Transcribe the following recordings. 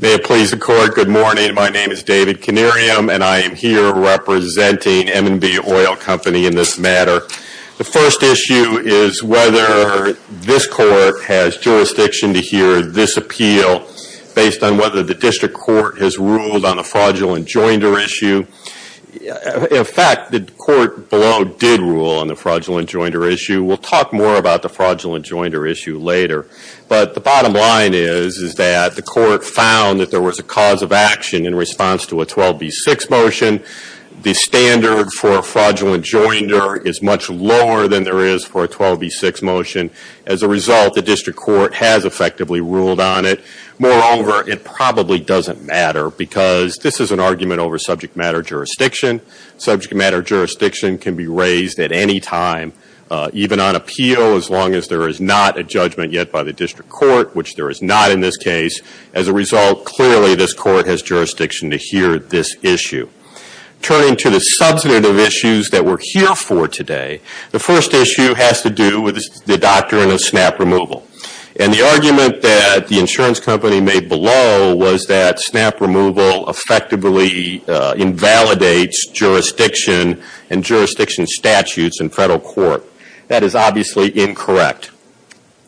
May it please the Court, good morning. My name is David Kinnerium, and I am here representing M & B Oil Company in this matter. The first issue is whether this Court has jurisdiction to hear this appeal based on whether the District Court has ruled on the fraudulent joinder issue. In fact, the Court below did rule on the fraudulent joinder issue. We'll talk more about the fraudulent joinder issue later. But the bottom line is that the Court found that there was a cause of action in response to a 12b6 motion. The standard for a fraudulent joinder is much lower than there is for a 12b6 motion. As a result, the District Court has effectively ruled on it. Moreover, it probably doesn't matter because this is an argument over subject matter jurisdiction. Subject matter jurisdiction can be raised at any time, even on appeal, as long as there is not a judgment yet by the District Court, which there is not in this case. As a result, clearly this Court has jurisdiction to hear this issue. Turning to the substantive issues that we're here for today, the first issue has to do with the doctrine of snap removal. And the argument that the insurance company made below was that snap removal effectively invalidates jurisdiction and jurisdiction statutes in federal court. That is obviously incorrect.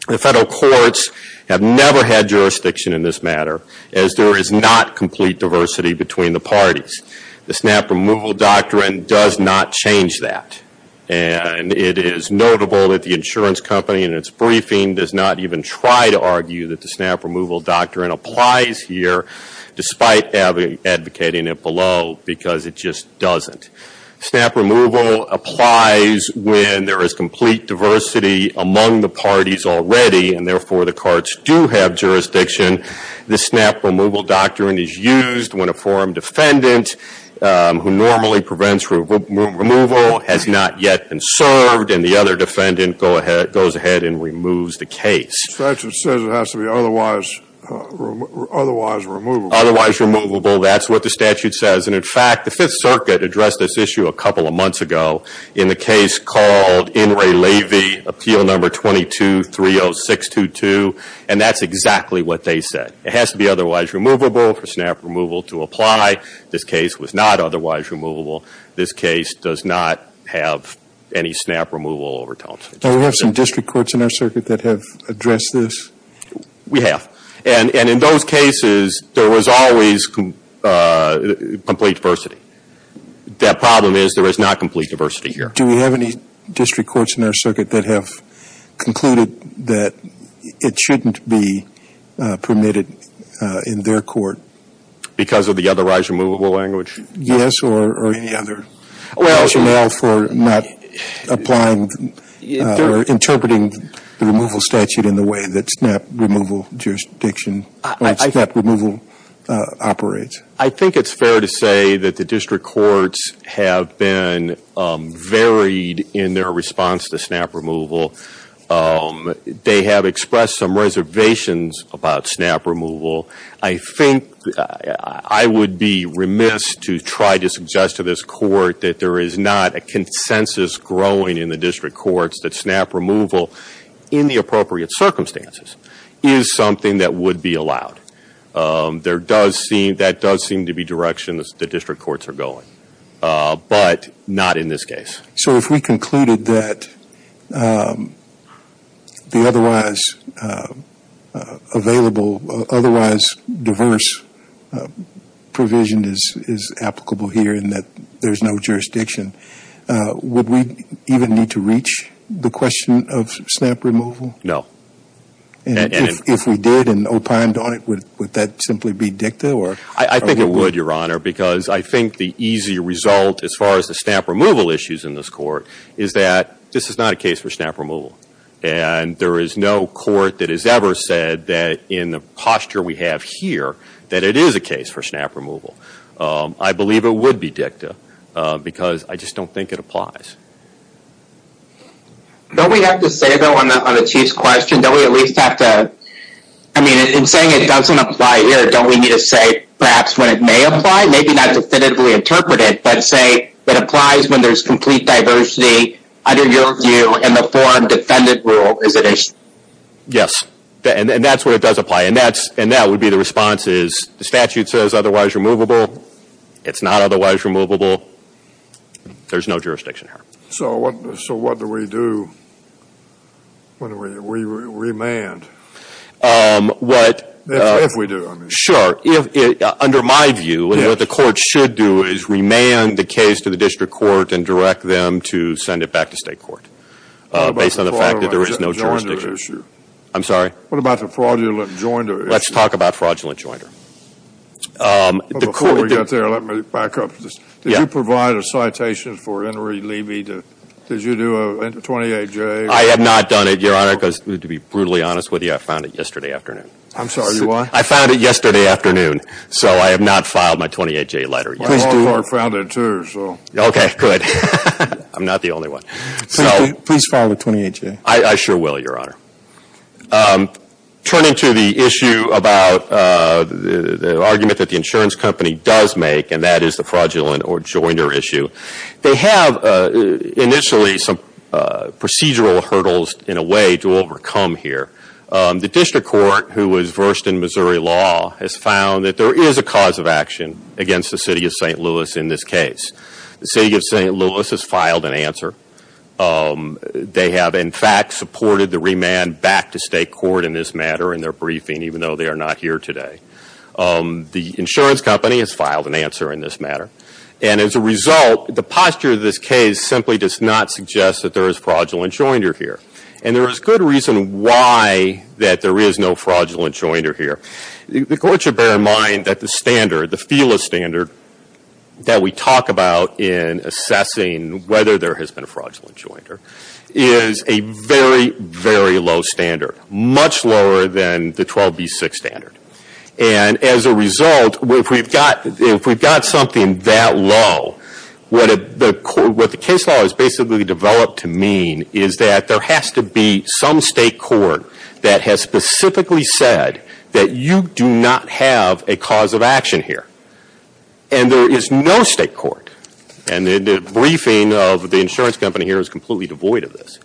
The federal courts have never had jurisdiction in this matter, as there is not complete diversity between the parties. The snap removal doctrine does not change that. And it is notable that the insurance company in its briefing does not even try to argue that the snap removal doctrine applies here, despite advocating it below, because it just doesn't. Snap removal applies when there is complete diversity among the parties already, and therefore the courts do have jurisdiction. The snap removal doctrine is used when a forum defendant who normally prevents removal has not yet been served, and the other defendant goes ahead and removes the case. The statute says it has to be otherwise removable. Otherwise removable, that's what the statute says. And in fact, the Fifth Circuit addressed this issue a couple of months ago in the case called In re Levy, Appeal No. 22-30622, and that's exactly what they said. It has to be otherwise removable for snap removal to apply. This case was not otherwise removable. This case does not have any snap removal overtones. Now, we have some district courts in our circuit that have addressed this. We have. And in those cases, there was always complete diversity. That problem is there is not complete diversity here. Do we have any district courts in our circuit that have concluded that it shouldn't be permitted in their court? Because of the otherwise removable language? Yes, or any other rationale for not applying the snap removal? Interpreting the removal statute in the way that snap removal jurisdiction, or snap removal operates. I think it's fair to say that the district courts have been varied in their response to snap removal. They have expressed some reservations about snap removal. I think I would be remiss to try to suggest to this court that there is not a consensus growing in the district courts that snap removal, in the appropriate circumstances, is something that would be allowed. That does seem to be directions the district courts are going. But not in this case. So if we concluded that the otherwise available, otherwise diverse provision is applicable here and that there is no jurisdiction, would we even need to reach the question of snap removal? No. And if we did and opined on it, would that simply be dicta? I think it would, Your Honor, because I think the easy result as far as the snap removal issues in this court is that this is not a case for snap removal. And there is no court that has ever said that in the posture we have here, that it is a case for snap removal. I believe it would be dicta, because I just don't think it applies. Don't we have to say, though, on the Chief's question, don't we at least have to, I mean, in saying it doesn't apply here, don't we need to say perhaps when it may apply? Maybe not definitively interpret it, but say it applies when there is complete diversity under your view in the forum defendant rule, is it? Yes. And that is where it does apply. And that would be the response is the statute says otherwise removable. It is not otherwise removable. There is no jurisdiction here. So what do we do when we remand, if we do, I mean? Sure. Under my view, what the court should do is remand the case to the district court and direct them to send it back to state court based on the fact that there is no jurisdiction. What about the fraudulent joinder issue? I'm sorry? What about the fraudulent joinder issue? Let's talk about fraudulent joinder. Before we get there, let me back up. Did you provide a citation for Henry Levy? Did you do a 28-J? I have not done it, Your Honor, because to be brutally honest with you, I found it yesterday afternoon. I'm sorry, you what? I found it yesterday afternoon. So I have not filed my 28-J letter yet. My law firm found it too, so. Okay, good. I'm not the only one. Please file the 28-J. I sure will, Your Honor. Turning to the issue about the argument that the insurance company does make, and that is the fraudulent or joinder issue, they have initially some procedural hurdles in a way to overcome here. The district court, who was versed in Missouri law, has found that there is a cause of action against the City of St. Louis in this case. The City of St. Louis has filed an answer. They have, in fact, supported the remand back to state court in this matter in their briefing, even though they are not here today. The insurance company has filed an answer in this matter. And as a result, the posture of this case simply does not suggest that there is fraudulent joinder here. And there is good reason why that there is no fraudulent joinder here. The court should bear in mind that the standard, the FILA standard, that we talk about in assessing whether there has been a fraudulent joinder, is a very, very low standard. Much lower than the 12B6 standard. And as a result, if we've got something that low, what the case law has basically developed to mean is that there has to be some state court that has specifically said that you do not have a cause of action here. And there is no state court. And the briefing of the insurance company here is completely devoid of this.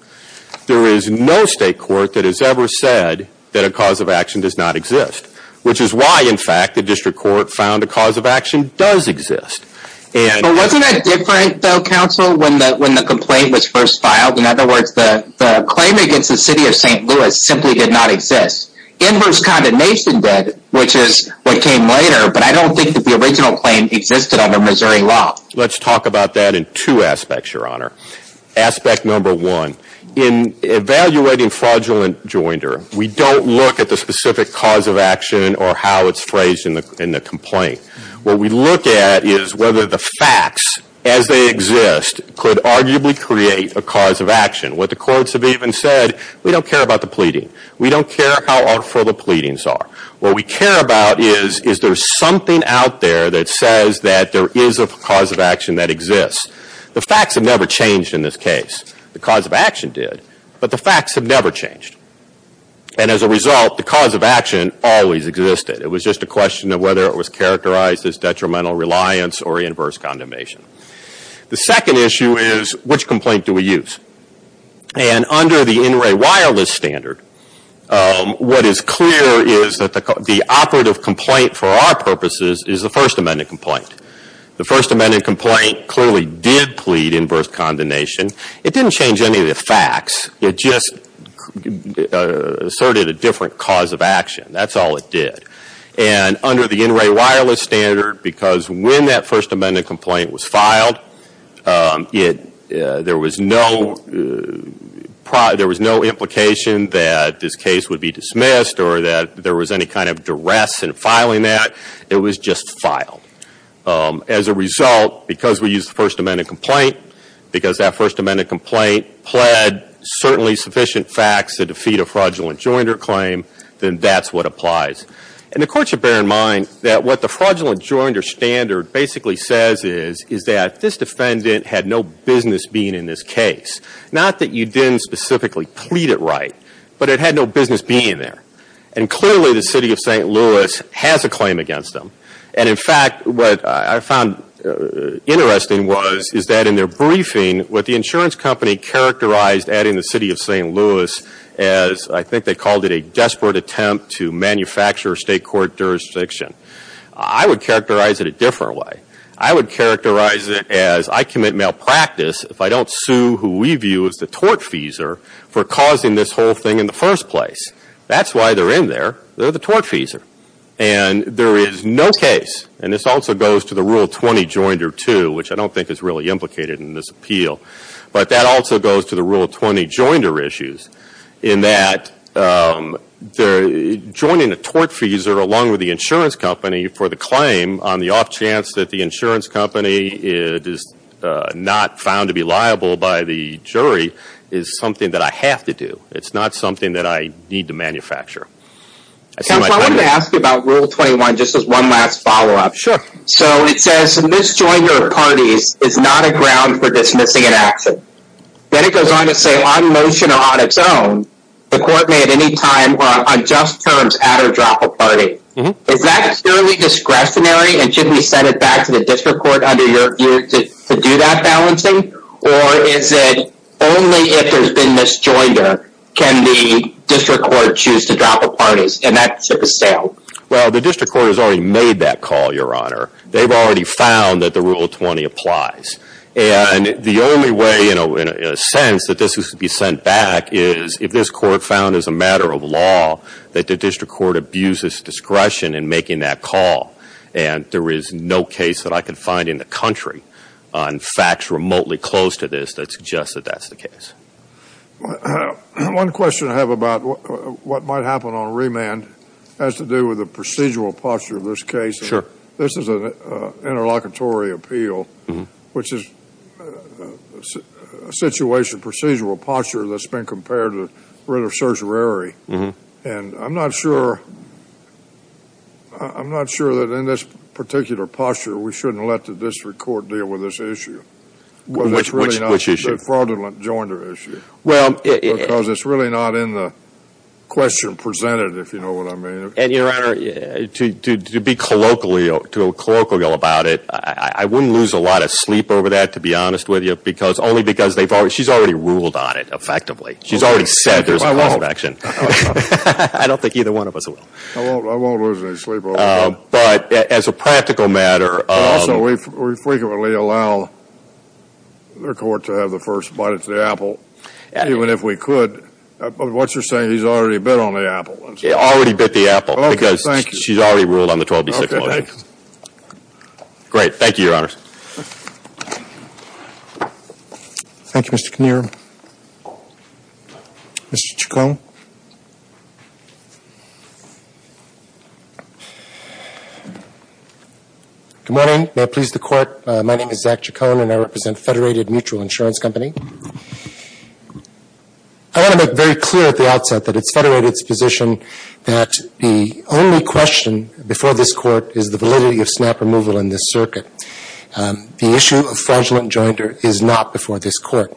There is no state court that has ever said that a cause of action does not exist. Which is why, in fact, the district court found a cause of action does exist. But wasn't that different, though, counsel, when the complaint was first filed? In other words, the claim against the City of St. Louis simply did not exist. Inverse condemnation did, which is what came later. But I don't think that the original claim existed under Missouri law. Let's talk about that in two aspects, Your Honor. Aspect number one. In evaluating fraudulent joinder, we don't look at the specific cause of action or how it's phrased in the complaint. What we look at is whether the facts, as they exist, could arguably create a cause of action. What the courts have even said, we don't care about the pleading. We don't care how awful the pleadings are. What we care about is, is there something out there that says that there is a cause of action that exists. The facts have never changed in this case. The cause of action did, but the facts have never changed. And as a result, the cause of action always existed. It was just a question of whether it was characterized as detrimental reliance or inverse condemnation. The second issue is, which complaint do we use? And under the NRA wireless standard, what is clear is that the operative complaint for our purposes is the First Amendment complaint. The First Amendment complaint clearly did plead inverse condemnation. It didn't change any of the facts. It just asserted a different cause of action. That's all it did. And under the NRA wireless standard, because when that First Amendment complaint was filed, there was no implication that this case would be dismissed or that there was any kind of duress in filing that. It was just filed. As a result, because we used the First Amendment complaint, because that First Amendment complaint pled certainly sufficient facts to defeat a fraudulent joinder claim, then that's what applies. And the Court should bear in mind that what the fraudulent joinder standard basically says is that this defendant had no business being in this case. Not that you didn't specifically plead it right, but it had no business being there. And clearly the City of St. Louis has a claim against them. And in fact, what I found interesting was, is that in their briefing, what the insurance company characterized adding the City of St. Louis as, I think they called it, a desperate attempt to manufacture state court jurisdiction. I would characterize it a different way. I would characterize it as, I commit malpractice if I don't sue who we view as the tortfeasor for causing this whole thing in the first place. That's why they're in there. They're the tortfeasor. And there is no case, and this also goes to the Rule 20 joinder too, which I don't think is really implicated in this appeal, but that also goes to the Rule 20 joinder issues, in that joining a tortfeasor along with the insurance company for the claim on the off chance that the insurance company is not found to be liable by the jury is something that I have to do. It's not something that I need to manufacture. Counsel, I wanted to ask you about Rule 21, just as one last follow-up. Sure. So it says, a mis-joinder of parties is not a ground for dismissing an accident. Then it goes on to say, on motion or on its own, the court may at any time, on just terms, add or drop a party. Is that purely discretionary? And should we send it back to the district court under your view to do that balancing? Or is it only if there's been mis-joinder can the district court choose to drop a party? And that's a bestowal. Well, the district court has already made that call, Your Honor. They've already found that the Rule 20 applies. And the only way, in a sense, that this is to be sent back is if this court found as a matter of law that the district court abuses discretion in making that call. And there is no case that I could find in the country on facts remotely close to this that suggests that that's the case. One question I have about what might happen on remand has to do with the procedural posture of this case. This is an interlocutory appeal, which is a situation of procedural posture that's been compared to writ of certiorari. And I'm not sure that in this particular posture we shouldn't let the district court deal with this issue. Which issue? The fraudulent joinder issue. Because it's really not in the question presented, if you know what I mean. And, Your Honor, to be colloquial about it, I wouldn't lose a lot of sleep over that, to be honest with you, only because she's already ruled on it, effectively. She's already said there's a call for action. I don't think either one of us will. I won't lose any sleep over that. But, as a practical matter... Also, we frequently allow their court to have the first bite of the apple, even if we could. But what you're saying is he's already bit on the apple. Already bit the apple, because she's already ruled on the 12B6 motion. Great. Thank you, Your Honor. Thank you, Mr. Knierim. Mr. Chacon. Good morning. May it please the Court. My name is Zach Chacon, and I represent Federated Mutual Insurance Company. I want to make very clear at the outset that it's Federated's position that the only question before this Court is the validity of snap removal in this circuit. The issue of fraudulent joinder is not before this Court.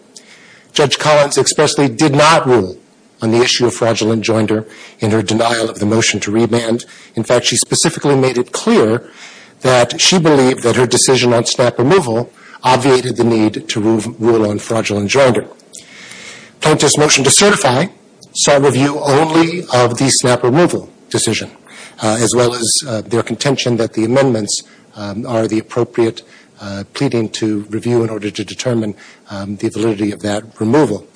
Judge Collins expressly did not rule on the issue of fraudulent joinder in her denial of the motion to remand. In fact, she specifically made it clear that she believed that her decision on snap removal obviated the need to rule on fraudulent joinder. Plaintiff's motion to certify saw review only of the snap removal decision, as well as their contention that the amendments are the appropriate pleading to review in order to determine the validity of that removal.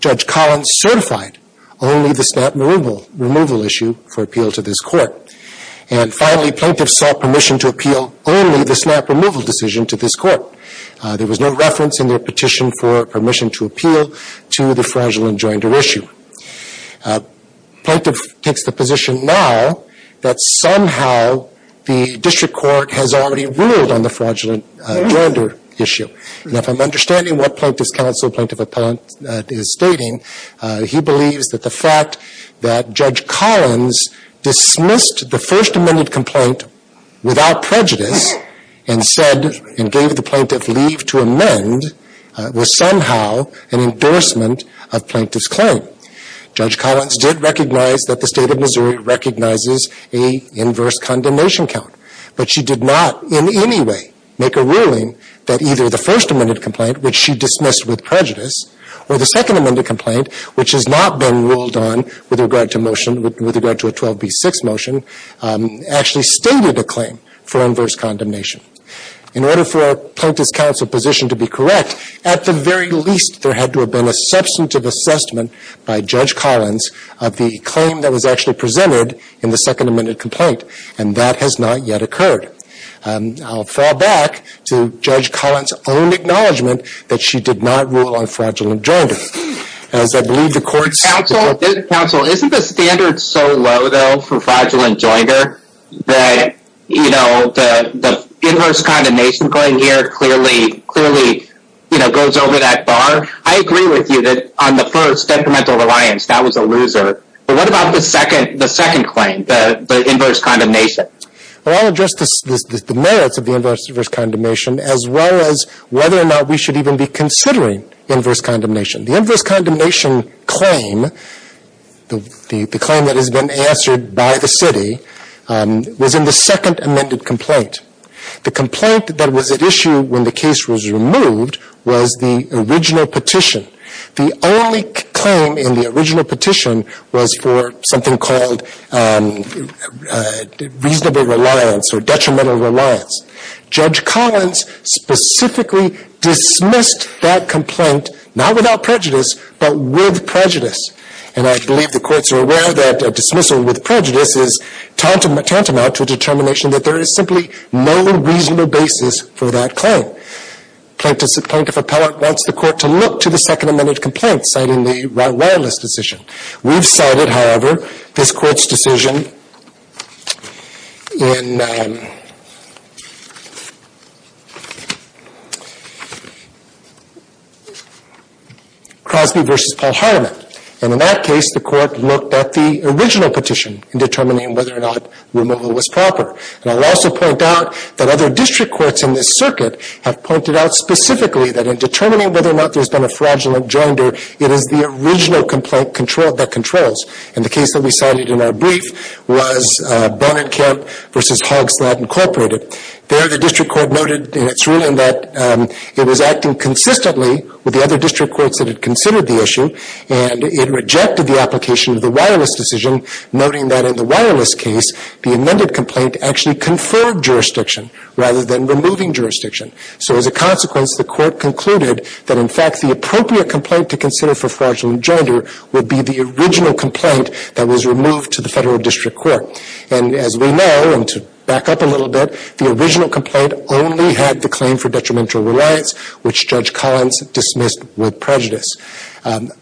Judge Collins certified only the snap removal issue for appeal to this Court. And finally, plaintiff sought permission to appeal only the snap removal decision to this Court. There was no reference in their petition for permission to appeal to the fraudulent joinder issue. Plaintiff takes the position now that somehow the district court has already ruled on the fraudulent joinder issue. Now, if I'm understanding what Plaintiff's counsel, Plaintiff's appellant is stating, he believes that the fact that Judge Collins dismissed the first amended complaint without prejudice and said and gave the plaintiff leave to amend was somehow an endorsement of plaintiff's claim. Judge Collins did recognize that the State of Missouri recognizes a inverse condemnation count. But she did not in any way make a ruling that either the first amended complaint, which she dismissed with prejudice, or the second amended complaint, which has not been ruled on with regard to motion, with regard to a 12B6 motion, actually stated a claim for inverse condemnation. In order for Plaintiff's counsel position to be correct, at the very least, there had to have been a substantive assessment by Judge Collins of the claim that was actually presented in the second amended complaint. And that has not yet occurred. I'll fall back to Judge Collins' own acknowledgment that she did not rule on fraudulent joinder. Counsel, isn't the standard so low, though, for fraudulent joinder that the inverse condemnation going here clearly goes over that bar? I agree with you that on the first, detrimental reliance, that was a loser. But what about the second claim, the inverse condemnation? Well, I'll address the merits of the inverse condemnation as well as whether or not we should even be considering inverse condemnation. The inverse condemnation claim, the claim that has been answered by the city, was in the second amended complaint. The complaint that was at issue when the case was removed was the original petition. The only claim in the original petition was for something called reasonable reliance or detrimental reliance. Judge Collins specifically dismissed that complaint, not without prejudice, but with prejudice. And I believe the courts are aware that a dismissal with prejudice is tantamount to a determination that there is simply no reasonable basis for that claim. Plaintiff appellant wants the court to look to the second amended complaint, citing the wireless decision. We've cited, however, this court's decision in Crosby v. Paul Hartiman. And in that case, the court looked at the original petition in determining whether or not removal was proper. And I'll also point out that other district courts in this circuit have pointed out specifically that in determining whether or not there's been a fraudulent joinder, it is the original complaint that controls. And the case that we cited in our brief was Bonenkamp v. Hogslad, Inc. There, the district court noted in its ruling that it was acting consistently with the other district courts that had considered the issue, and it rejected the application of the wireless decision, noting that in the wireless case, the amended complaint actually conferred jurisdiction rather than removing jurisdiction. So as a consequence, the court concluded that in fact the appropriate complaint to consider for fraudulent joinder would be the original complaint that was removed to the federal district court. And as we know, and to back up a little bit, the original complaint only had the claim for detrimental reliance, which Judge Collins dismissed with prejudice.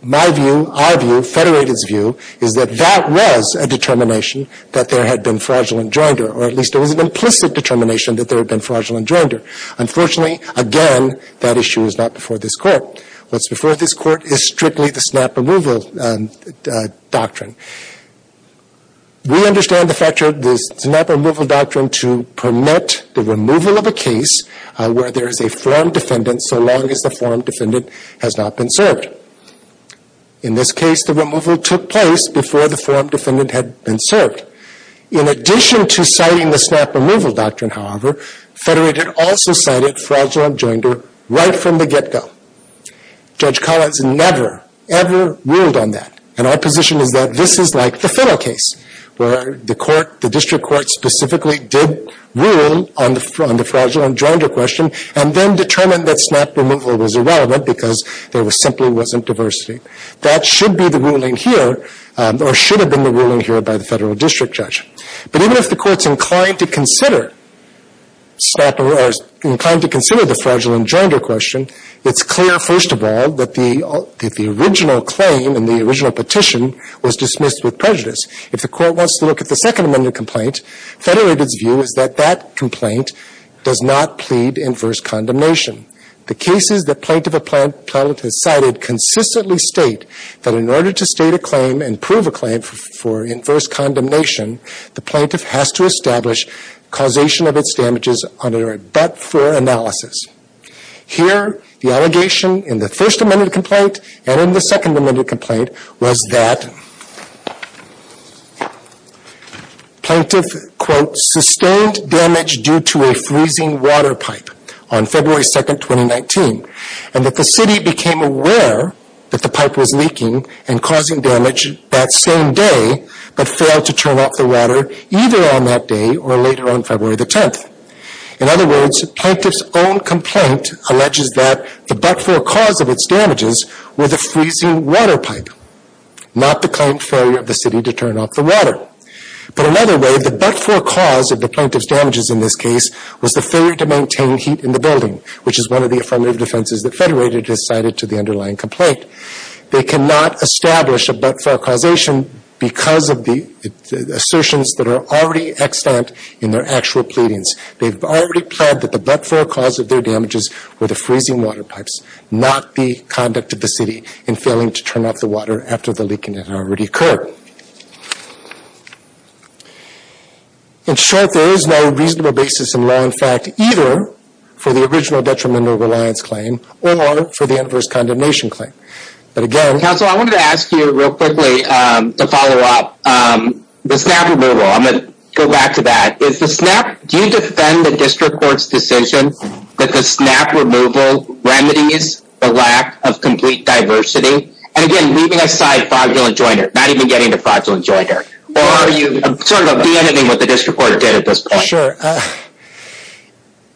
My view, our view, Federated's view, is that that was a determination that there had been fraudulent joinder, or at least it was an implicit determination that there had been fraudulent joinder. Unfortunately, again, that issue is not before this Court. What's before this Court is strictly the snap removal doctrine. We understand the fact that the snap removal doctrine to permit the removal of a case where there is a form defendant so long as the form defendant has not been served. In this case, the removal took place before the form defendant had been served. In addition to citing the snap removal doctrine, however, Federated also cited fraudulent joinder right from the get-go. Judge Collins never, ever ruled on that. And our position is that this is like the Fennel case, where the District Court specifically did rule on the fraudulent joinder question, and then determined that snap removal was irrelevant because there simply wasn't diversity. That should be the ruling here, or should have been the ruling here by the Federal District Judge. But even if the Court's inclined to consider snap removal, or inclined to consider the fraudulent joinder question, it's clear, first of all, that the original claim and the original petition was dismissed with prejudice. If the Court wants to look at the Second Amendment complaint, Federated's view is that that complaint does not plead inverse condemnation. The cases that Plaintiff Appellate has cited consistently state that in order to state a claim and prove a claim for inverse condemnation, the Plaintiff has to establish causation of its damages under a but-for analysis. Here, the allegation in the First Amendment complaint and in the Second Amendment complaint was that Plaintiff, quote, sustained damage due to a freezing water pipe on February 2nd, 2019, and that the city became aware that the pipe was leaking and causing damage that same day, but failed to turn off the water either on that day or later on February the 10th. In other words, Plaintiff's own complaint alleges that the but-for cause of its damages were the freezing water pipe, not the claimed failure of the city to turn off the water. But another way, the but-for cause of the Plaintiff's damages in this case was the failure to maintain heat in the building, which is one of the affirmative defenses that Federated has cited to the underlying complaint. They cannot establish a but-for causation because of the assertions that are already extant in their actual pleadings. They've already pled that the but-for cause of their damages were the freezing water pipes, not the conduct of the city in failing to turn off the water after the leaking had already occurred. In short, there is no reasonable basis in law and fact either for the original detrimental reliance claim or for the adverse condemnation claim. But again... Counsel, I wanted to ask you real quickly to follow up. The SNAP removal, I'm going to go back to that. Is the SNAP, do you defend the district court's decision that the SNAP removal remedies the lack of complete diversity? not even getting into that, or are you sort of de-ending what the district court did at this point? Sure.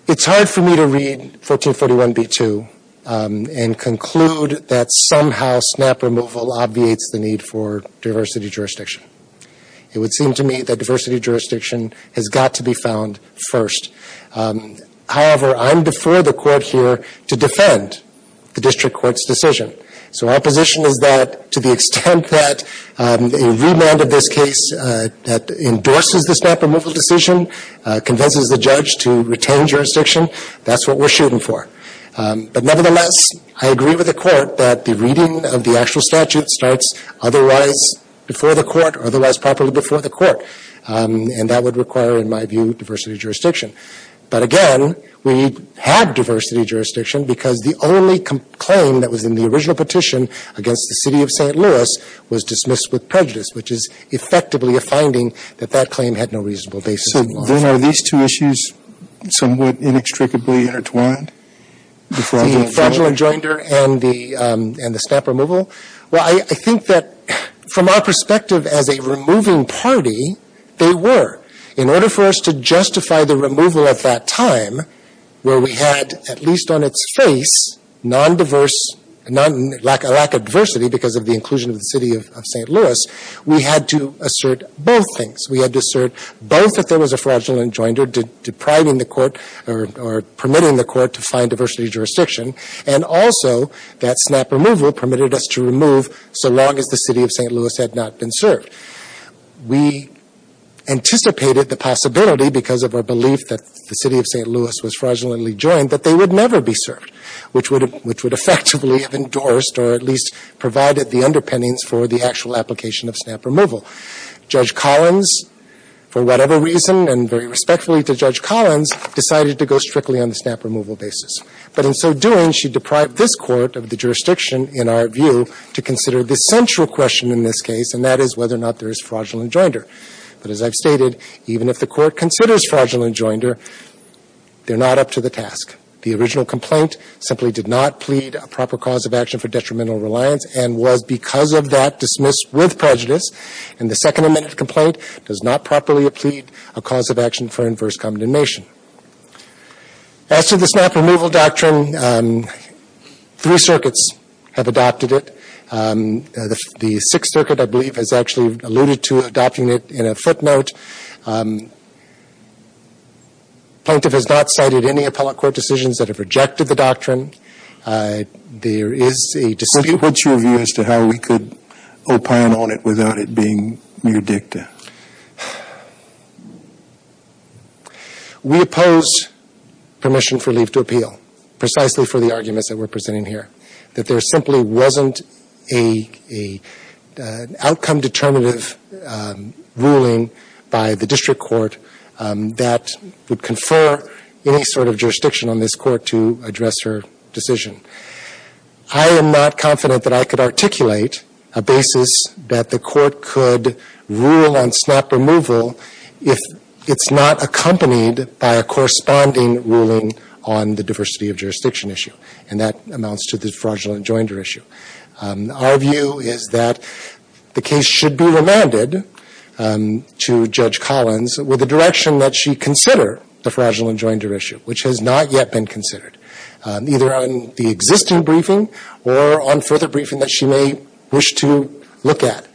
It's hard for me to read 1441b-2 and conclude that somehow SNAP removal obviates the need for diversity jurisdiction. It would seem to me that diversity jurisdiction has got to be found first. However, I'm before the court here to defend the district court's decision. So our position is that to the extent that a remand of this case endorses the SNAP removal decision, convinces the judge to retain jurisdiction, that's what we're shooting for. But nevertheless, I agree with the court that the reading of the actual statute starts otherwise before the court, otherwise properly before the court. And that would require, in my view, diversity jurisdiction. But again, we had diversity jurisdiction because the only claim that was in the original petition against the city of St. Louis was dismissed with prejudice, which is effectively a finding that that claim had no reasonable basis in law. So then are these two issues somewhat inextricably intertwined? The fragile adjoinder and the SNAP removal? Well, I think that from our perspective as a removing party, they were. In order for us to justify the removal at that time, where we had, at least on its face, a lack of diversity because of the inclusion of the city of St. Louis, we had to assert both things. We had to assert both that there was a fraudulent adjoinder depriving the court or permitting the court to find diversity jurisdiction, and also that SNAP removal permitted us to remove so long as the city of St. Louis had not been served. We anticipated the possibility because of our belief that the city of St. Louis was fraudulently joined that they would never be served, which would effectively have endorsed or at least provided the underpinnings for the actual application of SNAP removal. Judge Collins, for whatever reason and very respectfully to Judge Collins, decided to go strictly on the SNAP removal basis. But in so doing, she deprived this Court of the jurisdiction, in our view, to consider the central question in this case, and that is whether or not there is fraudulent adjoinder. But as I've stated, even if the Court considers fraudulent adjoinder, they're not up to the task. The original complaint simply did not plead a proper cause of action for detrimental reliance and was because of that dismissed with prejudice. And the second amended complaint does not properly plead a cause of action for inverse condemnation. As to the SNAP removal doctrine, three circuits have adopted it. The Sixth Circuit, I believe, has actually alluded to adopting it in a footnote. Plaintiff has not cited any appellate court decisions that have rejected the doctrine. There is a dispute. What's your view as to how we could opine on it without it being near dicta? We oppose permission for leave to appeal, precisely for the arguments that we're presenting here, that there simply wasn't an outcome determinative ruling by the District Court that would confer any sort of jurisdiction on this Court to address her decision. I am not confident that I could articulate a basis that the Court could rule on SNAP removal if it's not accompanied by a corresponding ruling on the diversity of jurisdiction issue. And that amounts to the fraudulent adjoinder issue. Our view is that the case should be remanded to Judge Collins with the direction that she consider the fraudulent adjoinder issue, which has not yet been considered, either on the existing briefing or on further briefing that she may wish to look at.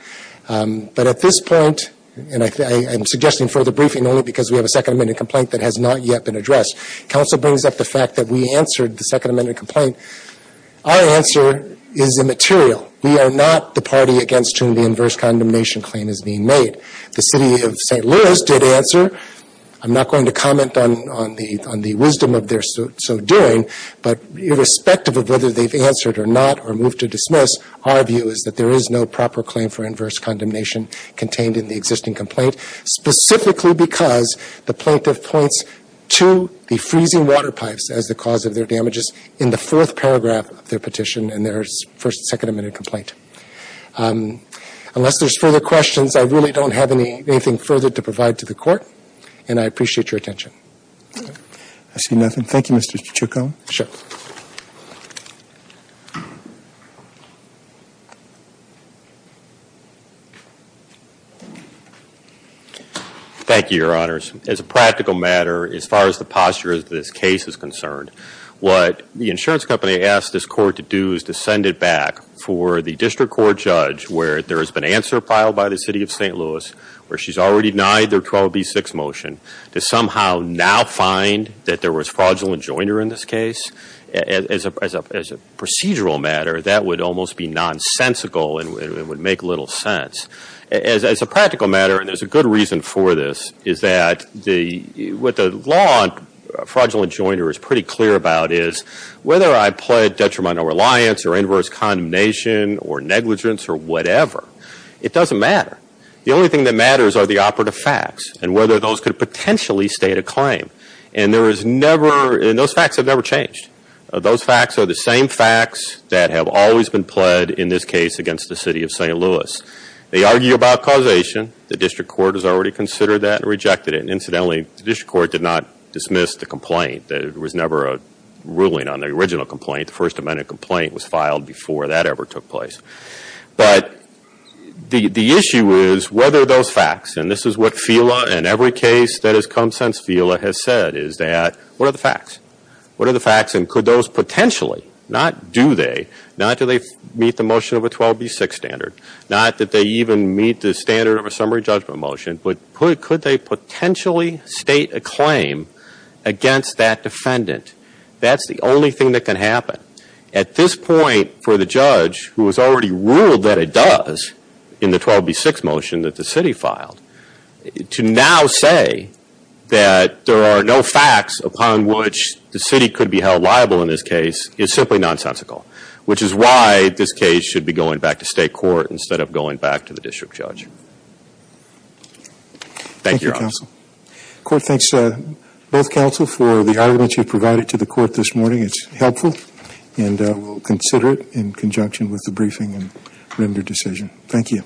But at this point, and I'm suggesting further briefing only because we have a Second Amendment complaint that has not yet been addressed, counsel brings up the fact that we answered the Second Amendment complaint. Our answer is immaterial. We are not the party against whom the inverse condemnation claim is being made. The City of St. Louis did answer. I'm not going to comment on the wisdom of their so doing, but irrespective of whether they've answered or not or moved to dismiss, our view is that there is no proper claim for inverse condemnation contained in the existing complaint specifically because the plaintiff points to the freezing water pipes as the cause of their damages in the fourth paragraph of their petition in their First and Second Amendment complaint. Unless there's further questions, I really don't have anything further to provide to the Court, and I appreciate your attention. I see nothing. Thank you, Mr. Chico. Sure. Thank you, Your Honors. As a practical matter, as far as the posture of this case is concerned, what the insurance company asked this Court to do is to send it back for the District Court Judge where there has been answer filed by the City of St. Louis where she's already denied their 12B6 motion to somehow now find that there was fraudulent joiner in this case. As a procedural matter, that would almost be nonsensical and would make little sense. As a practical matter, and there's a good reason for this, is that what the law on fraudulent joiner is pretty clear about is whether I pled detrimental reliance or inverse condemnation or negligence or whatever, it doesn't matter. The only thing that matters are the operative facts and whether those could potentially state a claim. And those facts have never changed. Those facts are the same facts that have always been pled in this case against the City of St. Louis. They argue about causation. The District Court has already considered that and rejected it. Incidentally, the District Court did not dismiss the complaint. There was never a ruling on the original complaint. The First Amendment complaint was filed before that ever took place. But the issue is whether those facts, and this is what FELA in every case that has come since FELA has said, is that, what are the facts? What are the facts and could those potentially, not do they, not do they meet the motion of a 12B6 standard, not that they even meet the standard of a summary judgment motion, but could they potentially state a claim against that defendant? That's the only thing that can happen. At this point, for the judge, who has already ruled that it does in the 12B6 motion that the City filed, to now say that there are no facts upon which the City could be held liable in this case is simply nonsensical. Which is why this case should be going back to State Court instead of going back to the District Judge. Thank you, Your Honor. Court thanks both counsel for the arguments you provided to the court this morning. It's helpful and we'll consider it in conjunction with the briefing and render decision. Thank you.